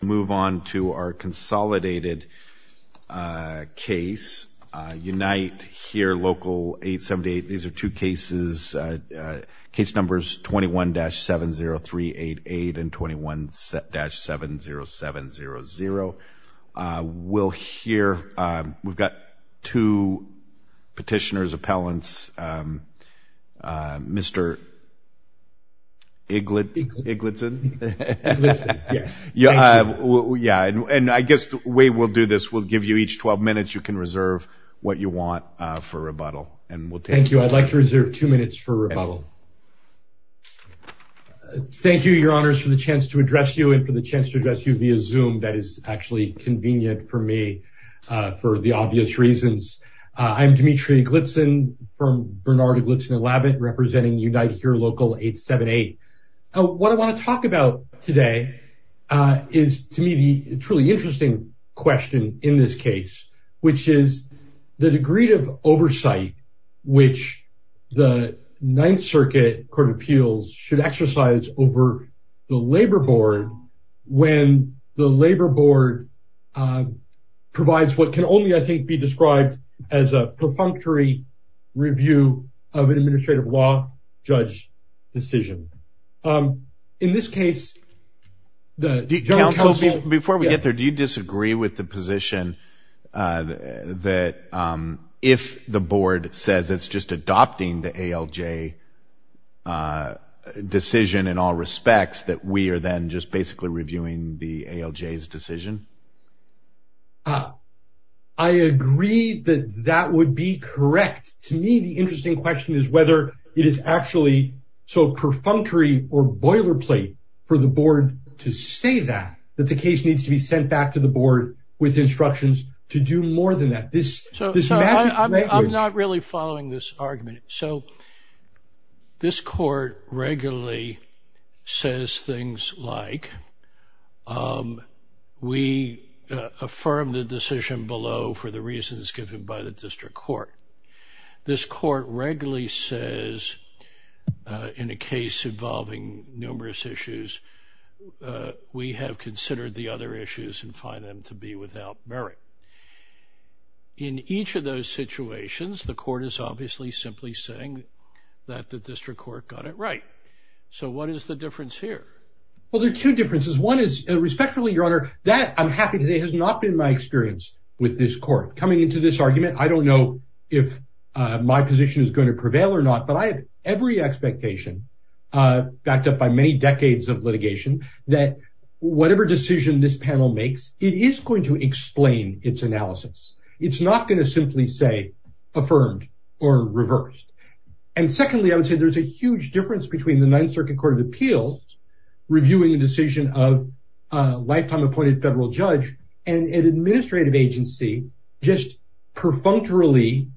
Move on to our consolidated case, Unite Here! Local 878. These are two cases, case numbers 21-70388 and 21-70700. We'll hear, we've got two petitioners, appellants, um, uh, Mr. Eglinton. Yeah, and I guess the way we'll do this, we'll give you each 12 minutes, you can reserve what you want for rebuttal. Thank you. I'd like to reserve two minutes for rebuttal. Thank you, your honors, for the chance to address you and for the chance to address you via Zoom. That is actually convenient for me, uh, for the obvious reasons. I'm Dmitry Eglinton from Bernard Eglinton and Lavit, representing Unite Here! Local 878. What I want to talk about today, uh, is to me the truly interesting question in this case, which is the degree of oversight which the Ninth Circuit Court of Appeals should exercise over the Labor Board, uh, provides what can only, I think, be described as a perfunctory review of an administrative law judge decision. Um, in this case, the General Counsel... Before we get there, do you disagree with the position, uh, that, um, if the Board says it's just adopting the ALJ, uh, decision in all respects, that we are then just basically reviewing the ALJ's decision? Uh, I agree that that would be correct. To me, the interesting question is whether it is actually so perfunctory or boilerplate for the Board to say that, that the case needs to be sent back to the Board with instructions to do more than that. This... So, I'm not really following this argument. So, this Court regularly says things like, um, we affirm the decision below for the reasons given by the District Court. This Court regularly says, uh, in a case involving numerous issues, uh, we have considered the other issues and find them to be without merit. In each of those situations, the Court is obviously simply saying that the District Court got it right. So, what is the difference here? Well, there are two differences. One is, respectfully, Your Honor, that, I'm happy to say, has not been my experience with this Court. Coming into this argument, I don't know if, uh, my position is going to prevail or not, but I have every expectation, uh, backed up by many decades of litigation, that whatever decision this panel makes, it is going to explain its analysis. It's not going to simply say, affirmed or reversed. And secondly, I would say there's a huge difference between the Ninth Circuit Court of Appeals reviewing the decision of a lifetime appointed federal judge and an administrative agency just perfunctorily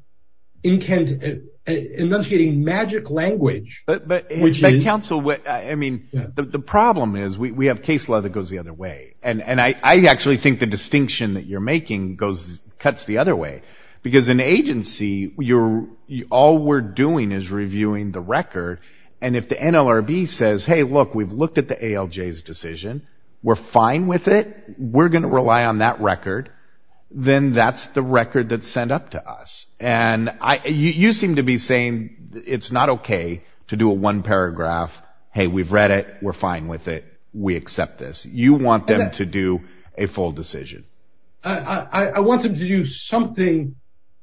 enunciating magic language... But, but, but counsel, I mean, the problem is we have case law that goes the other way. And, and I, I actually think the distinction that you're making goes, cuts the other way. Because an agency, you're, all we're doing is reviewing the record. And if the NLRB says, hey, look, we've looked at the ALJ's decision. We're fine with it. We're going to rely on that record. Then that's the record that's sent up to us. And I, you seem to be saying it's not okay to one paragraph. Hey, we've read it. We're fine with it. We accept this. You want them to do a full decision. I, I want them to do something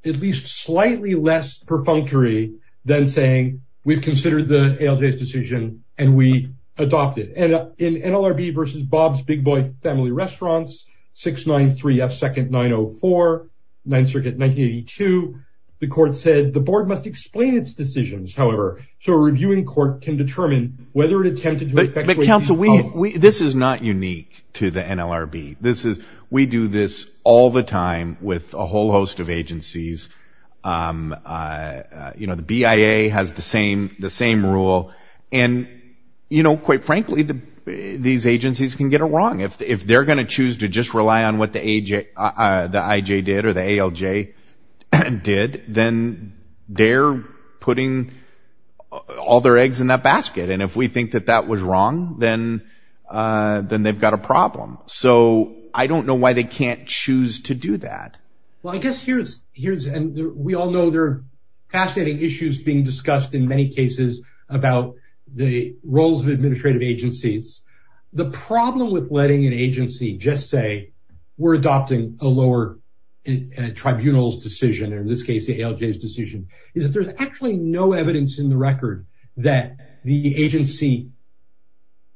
at least slightly less perfunctory than saying we've considered the ALJ's decision and we adopted. And in NLRB versus Bob's Big Boy Family Restaurants, 693 F second 904, Ninth Circuit, 1982, the court said the board must explain its can determine whether it attempted to. But, but counsel, we, we, this is not unique to the NLRB. This is, we do this all the time with a whole host of agencies. You know, the BIA has the same, the same rule. And, you know, quite frankly, the, these agencies can get it wrong. If, if they're going to choose to just rely on what the AJ, the IJ did or the ALJ did, then they're putting all their eggs in that basket. And if we think that that was wrong, then then they've got a problem. So I don't know why they can't choose to do that. Well, I guess here's, here's, and we all know they're fascinating issues being discussed in many cases about the roles of administrative agencies. The problem with letting an agency just say we're adopting a lower tribunal's decision, or in this case, the ALJ's decision is that there's actually no evidence in the record that the agency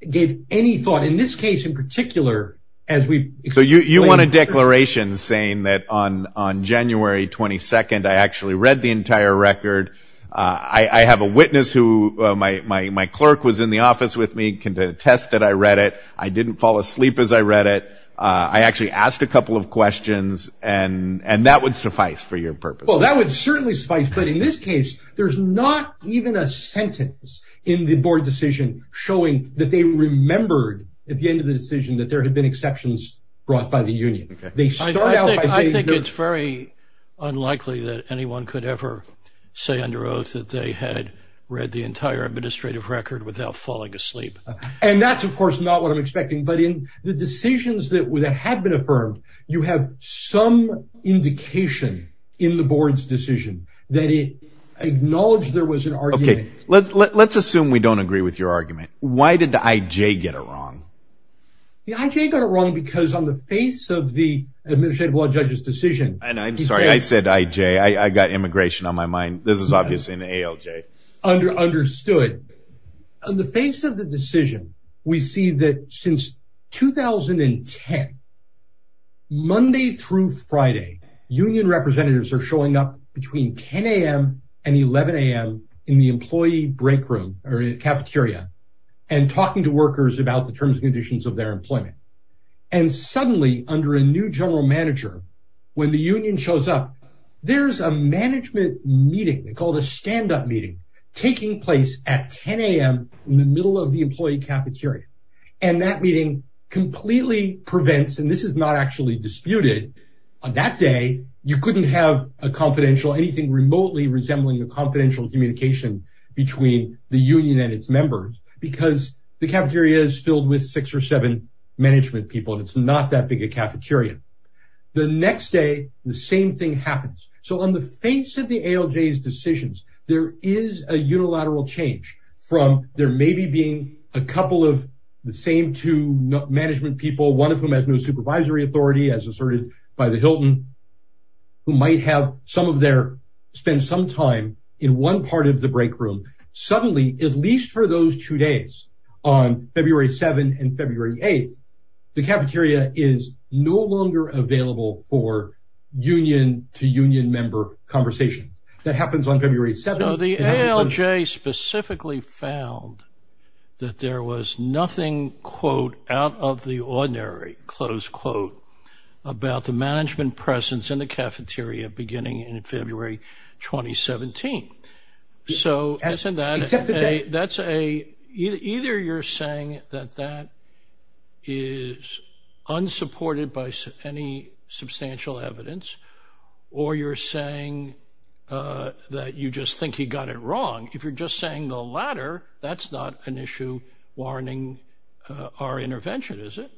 gave any thought, in this case in particular, as we. So you, you want a declaration saying that on, on January 22nd, I actually read the entire record. I have a witness who my, my, my clerk was in the office with me, can attest that I read it. I didn't fall asleep as I read it. I actually asked a couple of questions and, and that would suffice for your purpose. Well, that would certainly suffice. But in this case, there's not even a sentence in the board decision showing that they remembered at the end of the decision that there had been exceptions brought by the union. I think it's very unlikely that anyone could ever say under oath that they had read the entire administrative record without falling asleep. And that's of course not what I'm expecting. But in the decisions that have been affirmed, you have some indication in the board's decision that it acknowledged there was an argument. Okay, let's, let's assume we don't agree with your argument. Why did the IJ get it wrong? The IJ got it wrong because on the face of the administrative law judge's decision. And I'm sorry, I said IJ, I got immigration on my mind. This is obviously an ALJ. Understood. On the face of the decision, we see that since 2010, Monday through Friday, union representatives are showing up between 10am and 11am in the employee break room or cafeteria and talking to workers about the terms and conditions of their employment. And suddenly under a new general manager, when the union shows up, there's a management meeting called a stand up meeting taking place at 10am in the middle of the employee cafeteria. And that meeting completely prevents and this is not actually disputed. On that day, you couldn't have a confidential anything remotely resembling the confidential communication between the union and its members because the cafeteria is filled with six or seven management people and it's not that big a cafeteria. The next day, the same thing happens. So on the face of the ALJ's decisions, there is a unilateral change from there maybe being a couple of the same two management people, one of whom has no supervisory authority as asserted by the Hilton, who might have some of those two days on February 7 and February 8, the cafeteria is no longer available for union to union member conversations. That happens on February 7. So the ALJ specifically found that there was nothing, quote, out of the ordinary, close quote, about the management presence in the cafeteria beginning in February 2017. So that's a either you're saying that that is unsupported by any substantial evidence, or you're saying that you just think he got it wrong. If you're just saying the latter, that's not an issue warning our intervention, is it?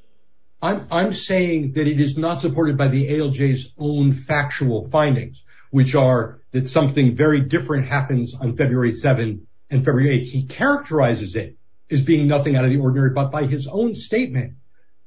I'm saying that it is not supported by the ALJ's own factual findings, which are that something very different happens on February 7 and February 8. He characterizes it as being nothing out of the ordinary, but by his own statement,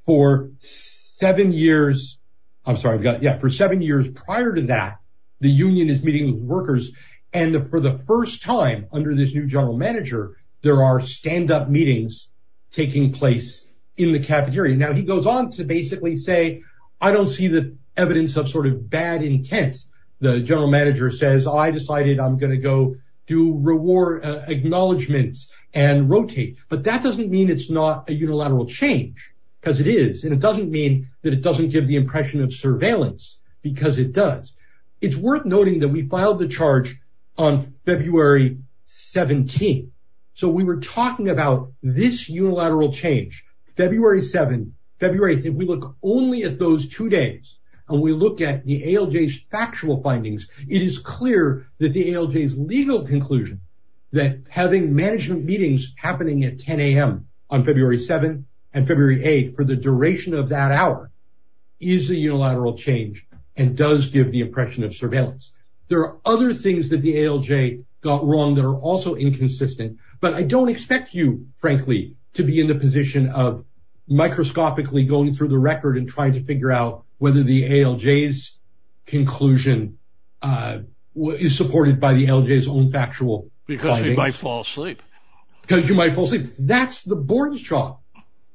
for seven years, I'm sorry, I've got yeah, for seven years prior to that, the union is meeting with workers. And for the first time under this new general manager, there are standup meetings taking place in the cafeteria. Now he goes on to basically say, I don't see the evidence of sort of bad intent. The general manager says, I decided I'm going to go do reward acknowledgements and rotate. But that doesn't mean it's not a unilateral change, because it is. And it doesn't mean that it doesn't give the impression of surveillance, because it does. It's worth noting that we filed the charge on February 17. So we were talking about this unilateral change, February 7, February 8, if we look only at those two days, and we look at the ALJ's factual findings, it is clear that the ALJ's legal conclusion, that having management meetings happening at 10am on February 7 and February 8 for the duration of that hour is a unilateral change, and does give the impression of surveillance. There are other things that the ALJ got wrong that are also inconsistent. But I don't expect you, frankly, to be in the position of microscopically going through the record and trying to figure out whether the ALJ's conclusion is supported by the ALJ's own factual. Because you might fall asleep. Because you might fall asleep. That's the board's job.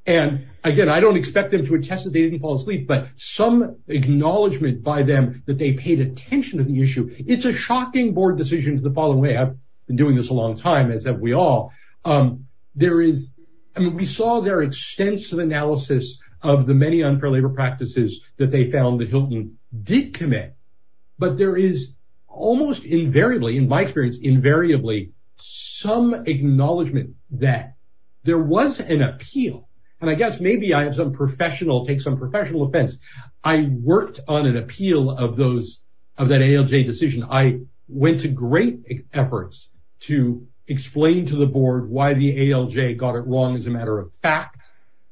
And again, I don't expect them to attest that they didn't fall asleep. But some acknowledgement by them that they paid attention to the issue. It's a shocking board decision to the following way. I've been doing this a long time, as have we all. There is, I mean, we saw their extensive analysis of the many unfair labor practices that they found that Hilton did commit. But there is almost invariably, in my experience, invariably, some acknowledgement that there was an appeal. And I guess maybe I have some take some professional offense. I worked on an appeal of that ALJ decision. I went to great efforts to explain to the board why the ALJ got it wrong as a matter of fact,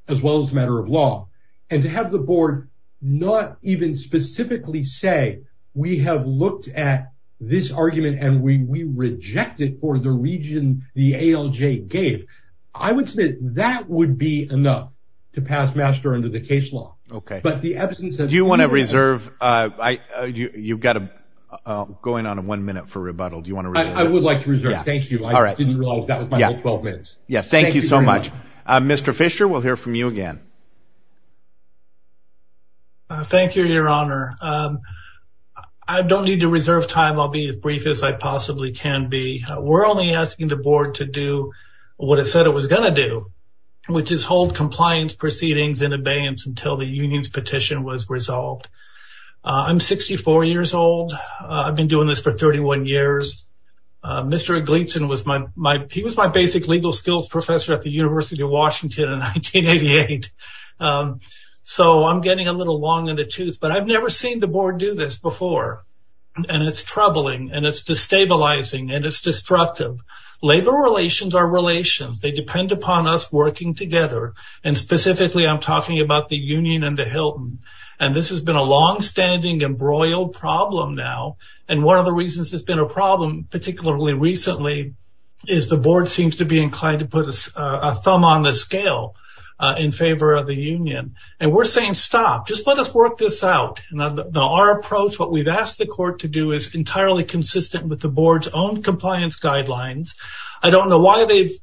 as well as a matter of law. And to have the board not even specifically say, we have looked at this argument and we reject it for the reason the ALJ gave. I would say that would be enough to pass master under the case law. Okay. But the absence of... Do you want to reserve? You've got to go in on a one minute for rebuttal. Do you want to... I would like to reserve. Thank you. I didn't realize that was my whole 12 minutes. Yeah. Thank you so much. Mr. Fisher, we'll hear from you again. Thank you, your honor. I don't need to reserve time. I'll be as brief as I possibly can be. We're only asking the board to do what it said it was going to do, which is hold compliance proceedings in abeyance until the union's petition was resolved. I'm 64 years old. I've been doing this for 31 years. Mr. Eglinton was my, he was my basic legal skills professor at the University of New York. So I'm getting a little long in the tooth, but I've never seen the board do this before. And it's troubling and it's destabilizing and it's destructive. Labor relations are relations. They depend upon us working together. And specifically, I'm talking about the union and the Hilton. And this has been a longstanding embroiled problem now. And one of the reasons it's been a problem, particularly recently, is the board seems to be inclined to put a thumb on the union. And we're saying, stop, just let us work this out. And our approach, what we've asked the court to do is entirely consistent with the board's own compliance guidelines. I don't know why they've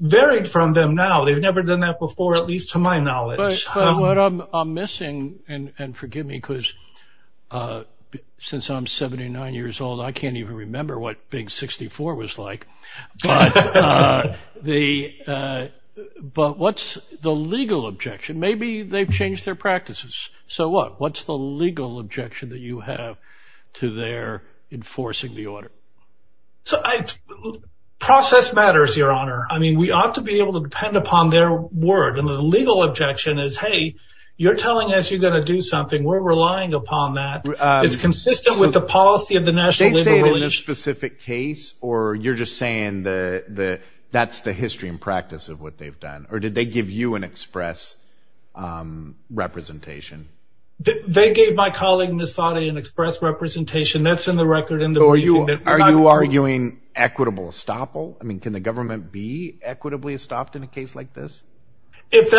varied from them now. They've never done that before, at least to my knowledge. But what I'm missing, and forgive me, because since I'm 79 years old, I can't even remember what being 64 was like. But what's the legal objection? Maybe they've changed their practices. So what's the legal objection that you have to their enforcing the order? So process matters, Your Honor. I mean, we ought to be able to depend upon their word. And the legal objection is, hey, you're telling us you're going to do something. We're relying upon that. It's consistent with the policy of the National Liberals. Did they say it in a specific case? Or you're just saying that's the history and practice of what they've done? Or did they give you an express representation? They gave my colleague Nassaude an express representation. That's in the record in the briefing. Are you arguing equitable estoppel? I mean, can the government be equitably estopped in a case like this? Yes.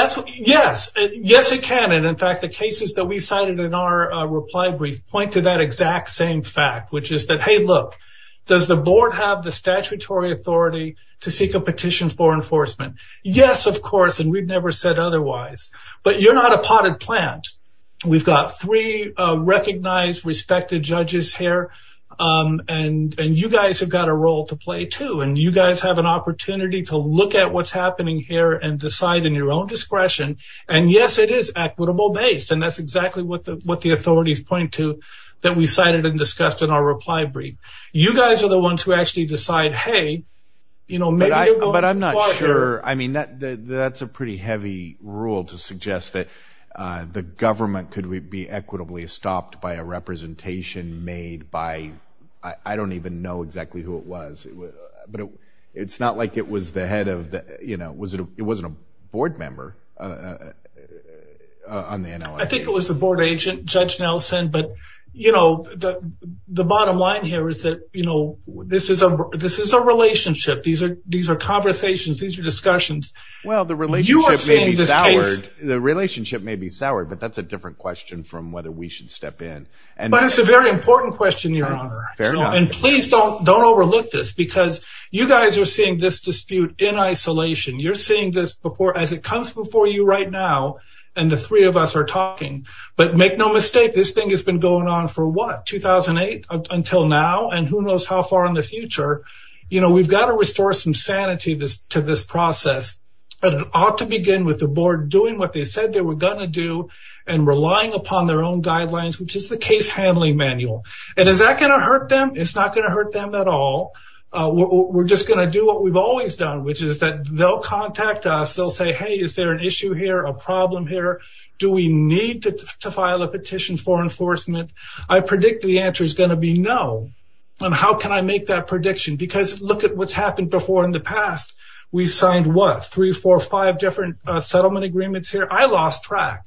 Yes, it can. And in fact, cases that we cited in our reply brief point to that exact same fact, which is that, hey, look, does the board have the statutory authority to seek a petition for enforcement? Yes, of course. And we've never said otherwise. But you're not a potted plant. We've got three recognized, respected judges here. And you guys have got a role to play, too. And you guys have an opportunity to look at what's happening here and decide in your own discretion. And yes, it is equitable based. And that's exactly what the authorities point to that we cited and discussed in our reply brief. You guys are the ones who actually decide, hey, you know, maybe. But I'm not sure. I mean, that's a pretty heavy rule to suggest that the government could be equitably stopped by a representation made by I don't even know exactly who it was. But it's not it was the head of the you know, was it it wasn't a board member on the NL? I think it was the board agent, Judge Nelson. But, you know, the bottom line here is that, you know, this is a this is a relationship. These are these are conversations. These are discussions. Well, the relationship may be soured. The relationship may be soured, but that's a different question from whether we should step in. And that's a very important question, Your Honor. And please don't don't dispute in isolation. You're seeing this before as it comes before you right now. And the three of us are talking. But make no mistake, this thing has been going on for what, 2008 until now and who knows how far in the future. You know, we've got to restore some sanity to this process. But it ought to begin with the board doing what they said they were going to do and relying upon their own guidelines, which is the case handling manual. And is that going to which is that they'll contact us. They'll say, hey, is there an issue here? A problem here? Do we need to file a petition for enforcement? I predict the answer is going to be no. And how can I make that prediction? Because look at what's happened before in the past. We signed what? Three, four, five different settlement agreements here. I lost track.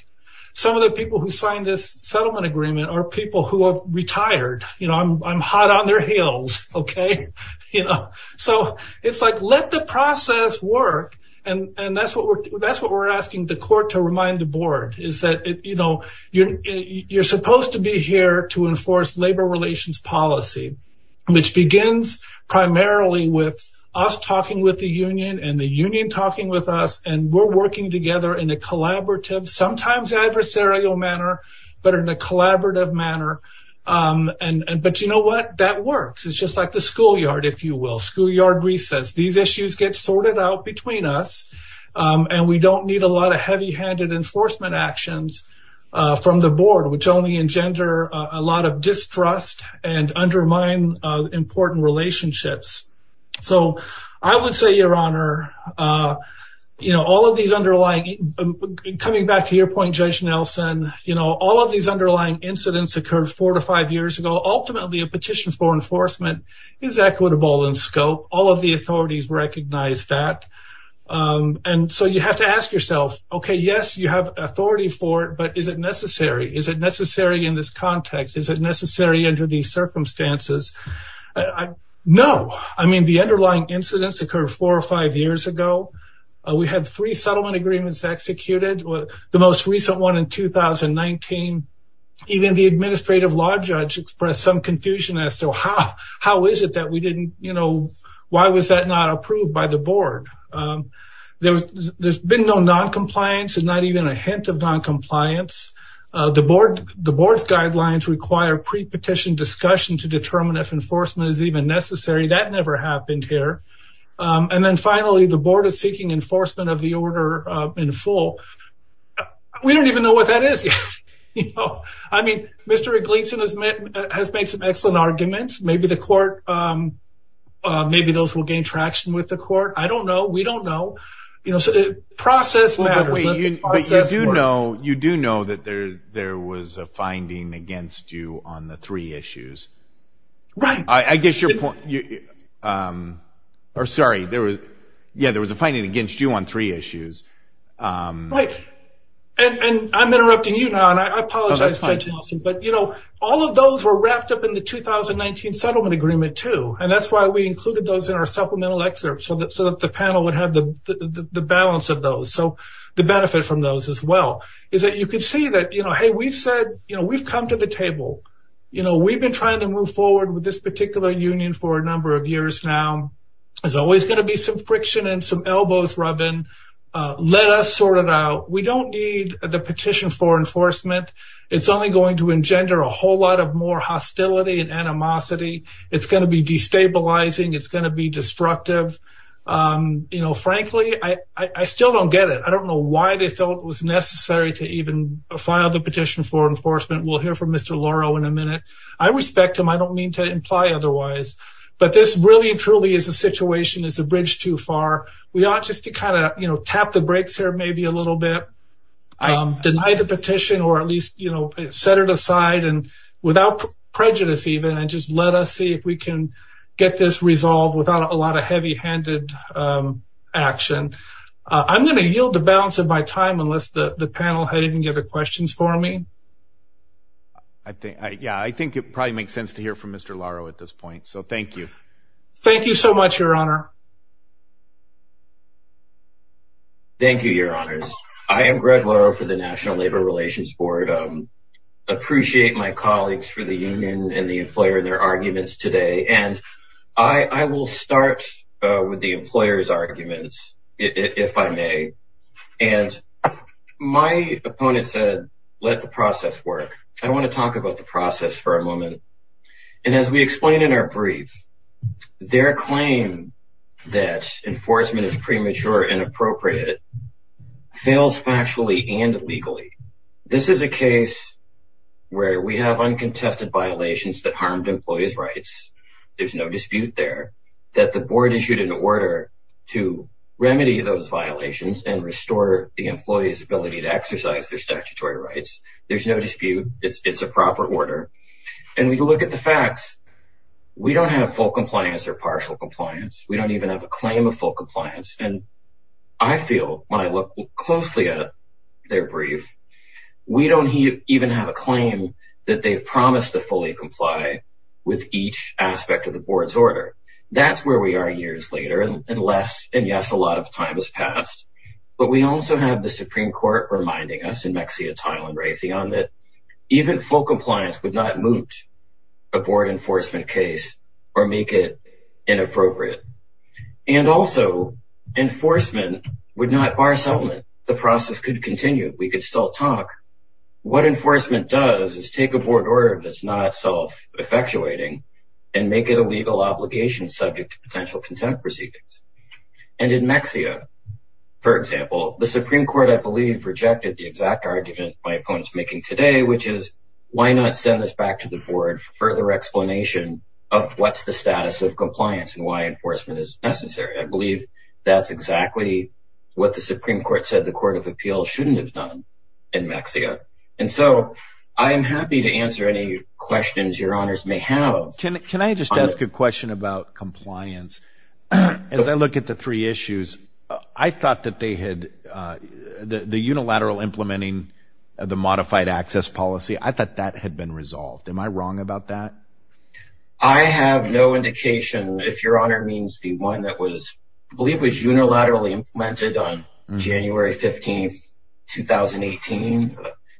Some of the people who signed this settlement agreement are people who have retired. You know, I'm hot on their heels. OK, you know, so it's like let the process work. And that's what we're asking the court to remind the board is that, you know, you're supposed to be here to enforce labor relations policy, which begins primarily with us talking with the union and the union talking with us. And we're working together in a collaborative, sometimes adversarial manner, but in a collaborative manner. And but you know what? That works. It's just like the schoolyard, if you will. Schoolyard recess. These issues get sorted out between us. And we don't need a lot of heavy handed enforcement actions from the board, which only engender a lot of distrust and undermine important relationships. So I would say, your honor, you know, all of these underlying coming back to your point, you know, all of these underlying incidents occurred four to five years ago. Ultimately, a petition for enforcement is equitable in scope. All of the authorities recognize that. And so you have to ask yourself, OK, yes, you have authority for it. But is it necessary? Is it necessary in this context? Is it necessary under these circumstances? No. I mean, the underlying incidents occurred four or five years ago. We had three settlement agreements executed. The most recent one in 2019. Even the administrative law judge expressed some confusion as to how is it that we didn't, you know, why was that not approved by the board? There's been no non-compliance and not even a hint of non-compliance. The board's guidelines require pre-petition discussion to determine if enforcement is even necessary. That never happened here. And then finally, the board is seeking enforcement of the order in full. We don't even know what that is yet. You know, I mean, Mr. Eglinton has made some excellent arguments. Maybe the court, maybe those will gain traction with the court. I don't know. We don't know. You know, process matters. You do know that there was a finding against you on the three issues. Right. I guess your point, or sorry, there was, yeah, there was a finding against you on three issues. Right. And I'm interrupting you now and I apologize, but you know, all of those were wrapped up in the 2019 settlement agreement too. And that's why we included those in our supplemental excerpts so that the panel would have the balance of those. So the benefit from those as well is that you can see that, you know, hey, we've said, we've come to the table. You know, we've been trying to move forward with this particular union for a number of years now. There's always going to be some friction and some elbows rubbing. Let us sort it out. We don't need the petition for enforcement. It's only going to engender a whole lot of more hostility and animosity. It's going to be destabilizing. It's going to be destructive. You know, frankly, I still don't get it. I don't know why they felt it was necessary to even file the petition for enforcement. We'll hear from Mr. Loro in a minute. I respect him. I don't mean to imply otherwise, but this really truly is a situation, is a bridge too far. We ought just to kind of, you know, tap the brakes here maybe a little bit, deny the petition, or at least, you know, set it aside and without prejudice even, and just let us see if we can get this resolved without a lot of heavy handed action. I'm going to yield the time unless the panel had any other questions for me. Yeah, I think it probably makes sense to hear from Mr. Loro at this point. So thank you. Thank you so much, your honor. Thank you, your honors. I am Greg Loro for the National Labor Relations Board. Appreciate my colleagues for the union and the employer and their arguments today. And I will start with the employer's arguments, if I may. And my opponent said, let the process work. I want to talk about the process for a moment. And as we explained in our brief, their claim that enforcement is premature and appropriate fails factually and legally. This is a case where we have uncontested violations that harmed employees' rights. There's no dispute there that the board issued an order to remedy those violations and restore the employee's ability to exercise their statutory rights. There's no dispute. It's a proper order. And we look at the facts. We don't have full compliance or partial compliance. We don't even have a claim of full compliance. We don't even have a claim that they've promised to fully comply with each aspect of the board's order. That's where we are years later. And yes, a lot of time has passed. But we also have the Supreme Court reminding us in Mexia, Tile, and Raytheon that even full compliance would not moot a board enforcement case or make it inappropriate. And also, enforcement would not bar settlement. The process could continue. We could still talk. What enforcement does is take a board order that's not self-effectuating and make it a legal obligation subject to potential contempt proceedings. And in Mexia, for example, the Supreme Court, I believe, rejected the exact argument my opponent's making today, which is why not send this back to the board for further explanation of what's the status of compliance and why enforcement is necessary. I believe that's exactly what the Supreme Court said the Court of Appeals shouldn't have done in Mexia. And so, I am happy to answer any questions your honors may have. Can I just ask a question about compliance? As I look at the three issues, I thought that they had, the unilateral implementing the modified access policy, I thought that had been resolved. Am I wrong about that? I have no indication if your honor means the one that was, I believe, was unilaterally implemented on January 15th, 2018,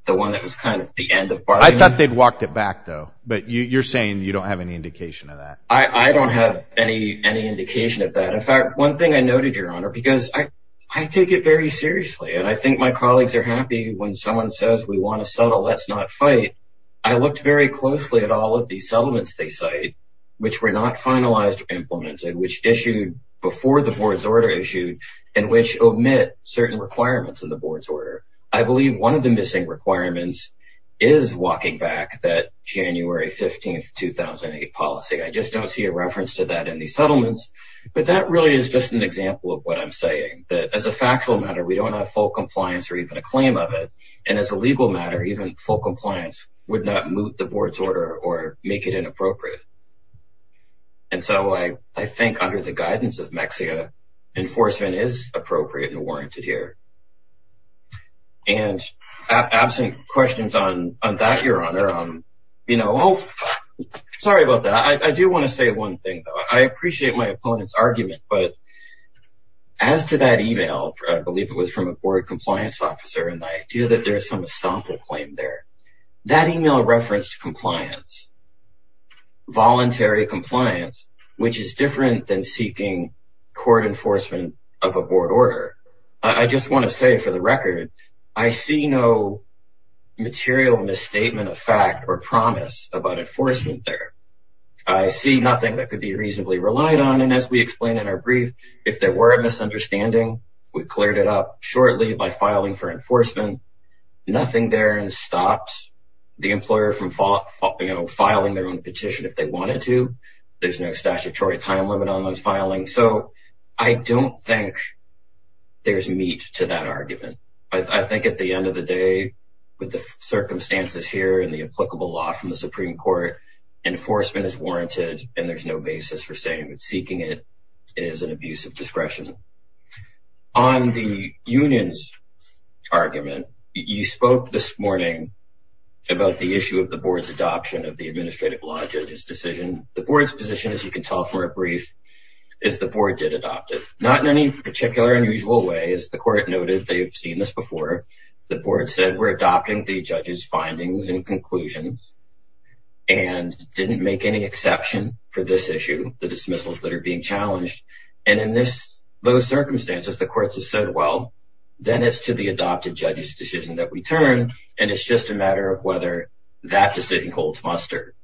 the one that was kind of the end of bargaining. I thought they'd walked it back though, but you're saying you don't have any indication of that. I don't have any indication of that. In fact, one thing I noted your honor, because I take it very seriously and I think my colleagues are happy when someone says we want to settle, let's not fight. I looked very closely at all of these settlements they cite, which were not finalized or implemented, which issued before the board's order issued, and which omit certain requirements in the board's order. I believe one of the missing requirements is walking back that January 15th, 2008 policy. I just don't see a reference to that in these settlements, but that really is just an example of what I'm saying, that as a factual matter, we don't have full compliance or even a claim of it. And as a legal matter, even full compliance would not move the board's order or make it inappropriate. And so, I think under the appropriate and warranted here. And absent questions on that, your honor, I'm sorry about that. I do want to say one thing though. I appreciate my opponent's argument, but as to that email, I believe it was from a board compliance officer, and the idea that there's some estoppel claim there, that email referenced compliance, voluntary compliance, which is a board order. I just want to say for the record, I see no material misstatement of fact or promise about enforcement there. I see nothing that could be reasonably relied on. And as we explained in our brief, if there were a misunderstanding, we cleared it up shortly by filing for enforcement, nothing there and stopped the employer from filing their own petition if they wanted to. There's no statutory time limit on those filings. So, I don't think there's meat to that argument. I think at the end of the day, with the circumstances here and the applicable law from the Supreme Court, enforcement is warranted and there's no basis for saying that seeking it is an abuse of discretion. On the union's argument, you spoke this morning about the issue of the board's adoption of the administrative law judge's decision. The board's position, as you can tell from our brief, is the board did adopt it, not in any particular unusual way. As the court noted, they've seen this before. The board said, we're adopting the judge's findings and conclusions and didn't make any exception for this issue, the dismissals that are being challenged. And in those circumstances, the courts have said, well, then it's to the adopted judge's decision that we turn and it's just a matter of whether that decision holds muster.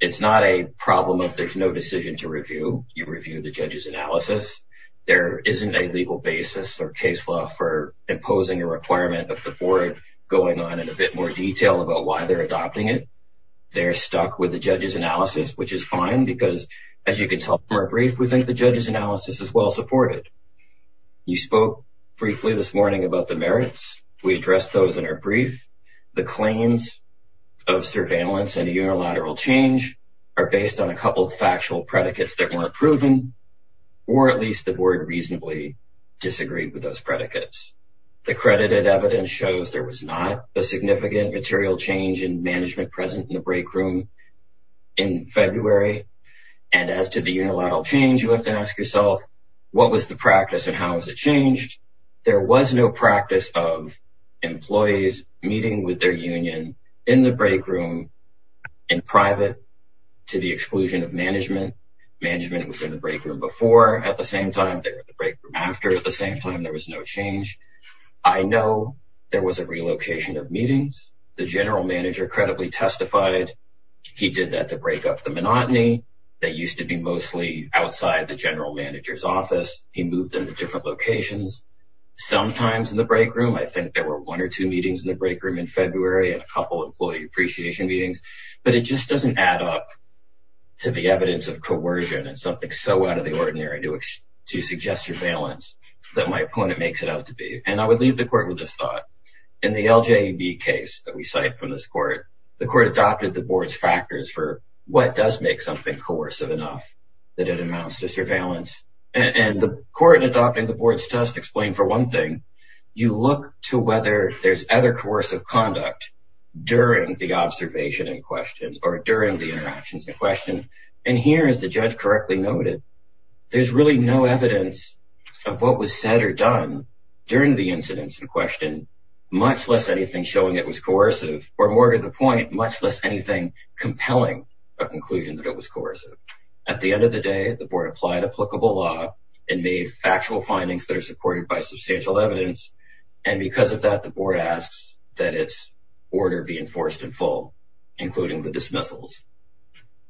It's not a problem if there's no decision to review. You review the judge's analysis. There isn't a legal basis or case law for imposing a requirement of the board going on in a bit more detail about why they're adopting it. They're stuck with the judge's analysis, which is fine because, as you can tell from our brief, we think the judge's analysis is well supported. You spoke briefly this morning about the merits. We addressed those in our brief. The claims of surveillance and unilateral change are based on a couple of factual predicates that weren't proven, or at least the board reasonably disagreed with those predicates. The credited evidence shows there was not a significant material change in management present in the break room in February. And as to the unilateral change, you have to ask yourself, what was the practice and how has it changed? There was no practice of employees meeting with their union in the break room in private to the exclusion of management. Management was in the break room before, at the same time they were in the break room after, at the same time there was no change. I know there was a relocation of meetings. The general manager credibly testified he did that to break up the monotony that used to be mostly outside the general manager's office. He moved them to different locations. Sometimes in the break room, I think there were one or two meetings in the break room in February and a couple employee appreciation meetings, but it just doesn't add up to the evidence of coercion and something so out of the ordinary to suggest surveillance that my opponent makes it out to be. And I would leave the court with this thought. In the LJB case that we cite from this court, the court adopted the board's factors for what does make something coercive enough that it amounts to surveillance. And the court in adopting the board's test explained for one thing, you look to whether there's other coercive conduct during the observation in question or during the interactions in question. And here, as the judge correctly noted, there's really no evidence of what was said or done during the incidents in question, much less anything showing it was coercive, or more to the point, much less anything compelling a conclusion that it was coercive. At the end of the day, the board applied applicable law and made factual findings that are supported by substantial evidence. And because of that, the board asks that its order be enforced in full, including the dismissals.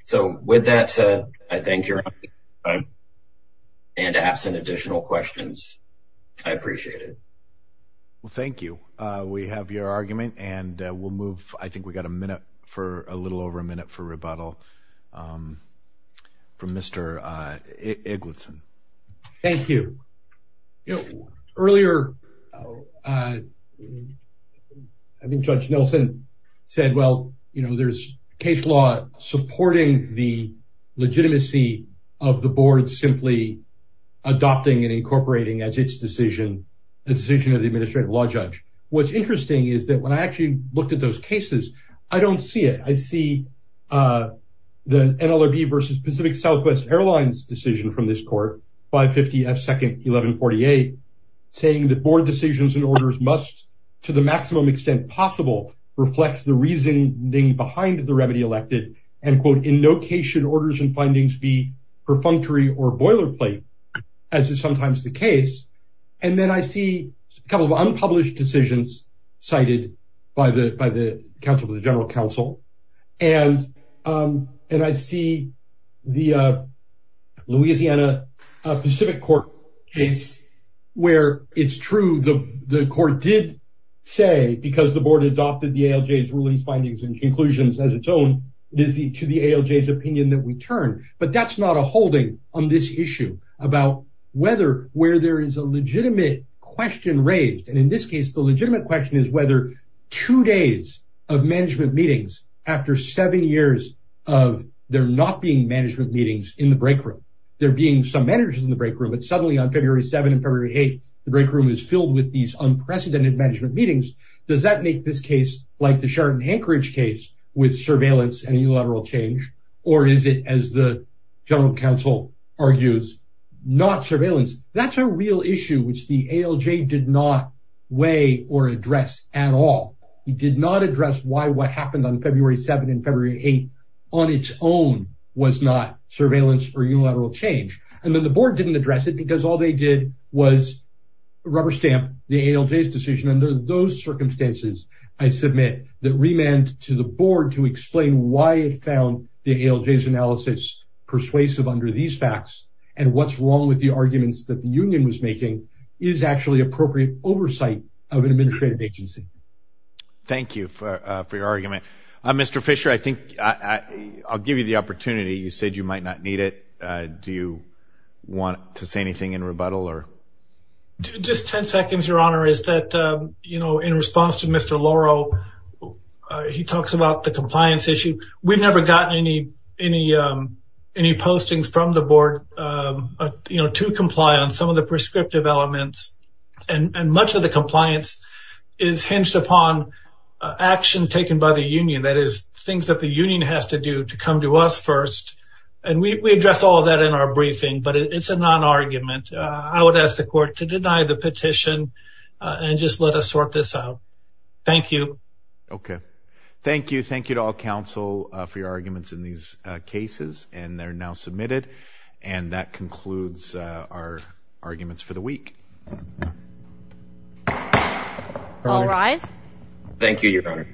So with that said, I thank your time. And absent additional questions, I appreciate it. Well, thank you. We have your argument and we'll move. I think we got a minute for a little over a minute for rebuttal from Mr. Eglinton. Thank you. Earlier, I think Judge Nelson said, well, there's case law supporting the legitimacy of the board simply adopting and incorporating as its decision, the decision of the administrative law judge. What's interesting is that when I actually looked at those cases, I don't see it. I see the NLRB versus Pacific Southwest Airlines decision from this court, 550 F2nd 1148, saying that board decisions and orders must, to the maximum extent possible, reflect the reasoning behind the remedy elected. And quote, in no case should orders and findings be perfunctory or boilerplate, as is sometimes the case. And then I see a couple of unpublished decisions cited by counsel to the general counsel. And I see the Louisiana Pacific Court case, where it's true, the court did say, because the board adopted the ALJ's rulings, findings, and conclusions as its own, it is to the ALJ's opinion that we turn. But that's not a holding on this issue about whether where there is a legitimate question raised. And in this case, the legitimate question is whether two days of management meetings after seven years of there not being management meetings in the break room, there being some managers in the break room, but suddenly on February 7 and February 8, the break room is filled with these unprecedented management meetings. Does that make this case like the Sheridan-Hankerich case with surveillance and unilateral change? Or is it, as the general counsel argues, not surveillance? That's a real issue, which the ALJ did not weigh or address at all. It did not address why what happened on February 7 and February 8 on its own was not surveillance or unilateral change. And then the board didn't address it because all they did was rubber stamp the ALJ's decision. Under those circumstances, I submit that remand to the board to explain why it found the ALJ's analysis persuasive under these facts and what's wrong with the arguments that the union was making is actually appropriate oversight of an administrative agency. Thank you for your argument. Mr. Fisher, I think I'll give you the opportunity. You said you might not need it. Do you want to say anything in rebuttal or? Just 10 seconds, Your Honor, is in response to Mr. Loro, he talks about the compliance issue. We've never gotten any postings from the board to comply on some of the prescriptive elements. And much of the compliance is hinged upon action taken by the union. That is, things that the union has to do to come to us first. And we addressed all of that in our briefing, but it's a non-argument. I would ask the court to deny the petition and just let us sort this out. Thank you. Okay. Thank you. Thank you to all counsel for your arguments in these cases and they're now submitted. And that concludes our arguments for the week. All rise. Thank you, Your Honor.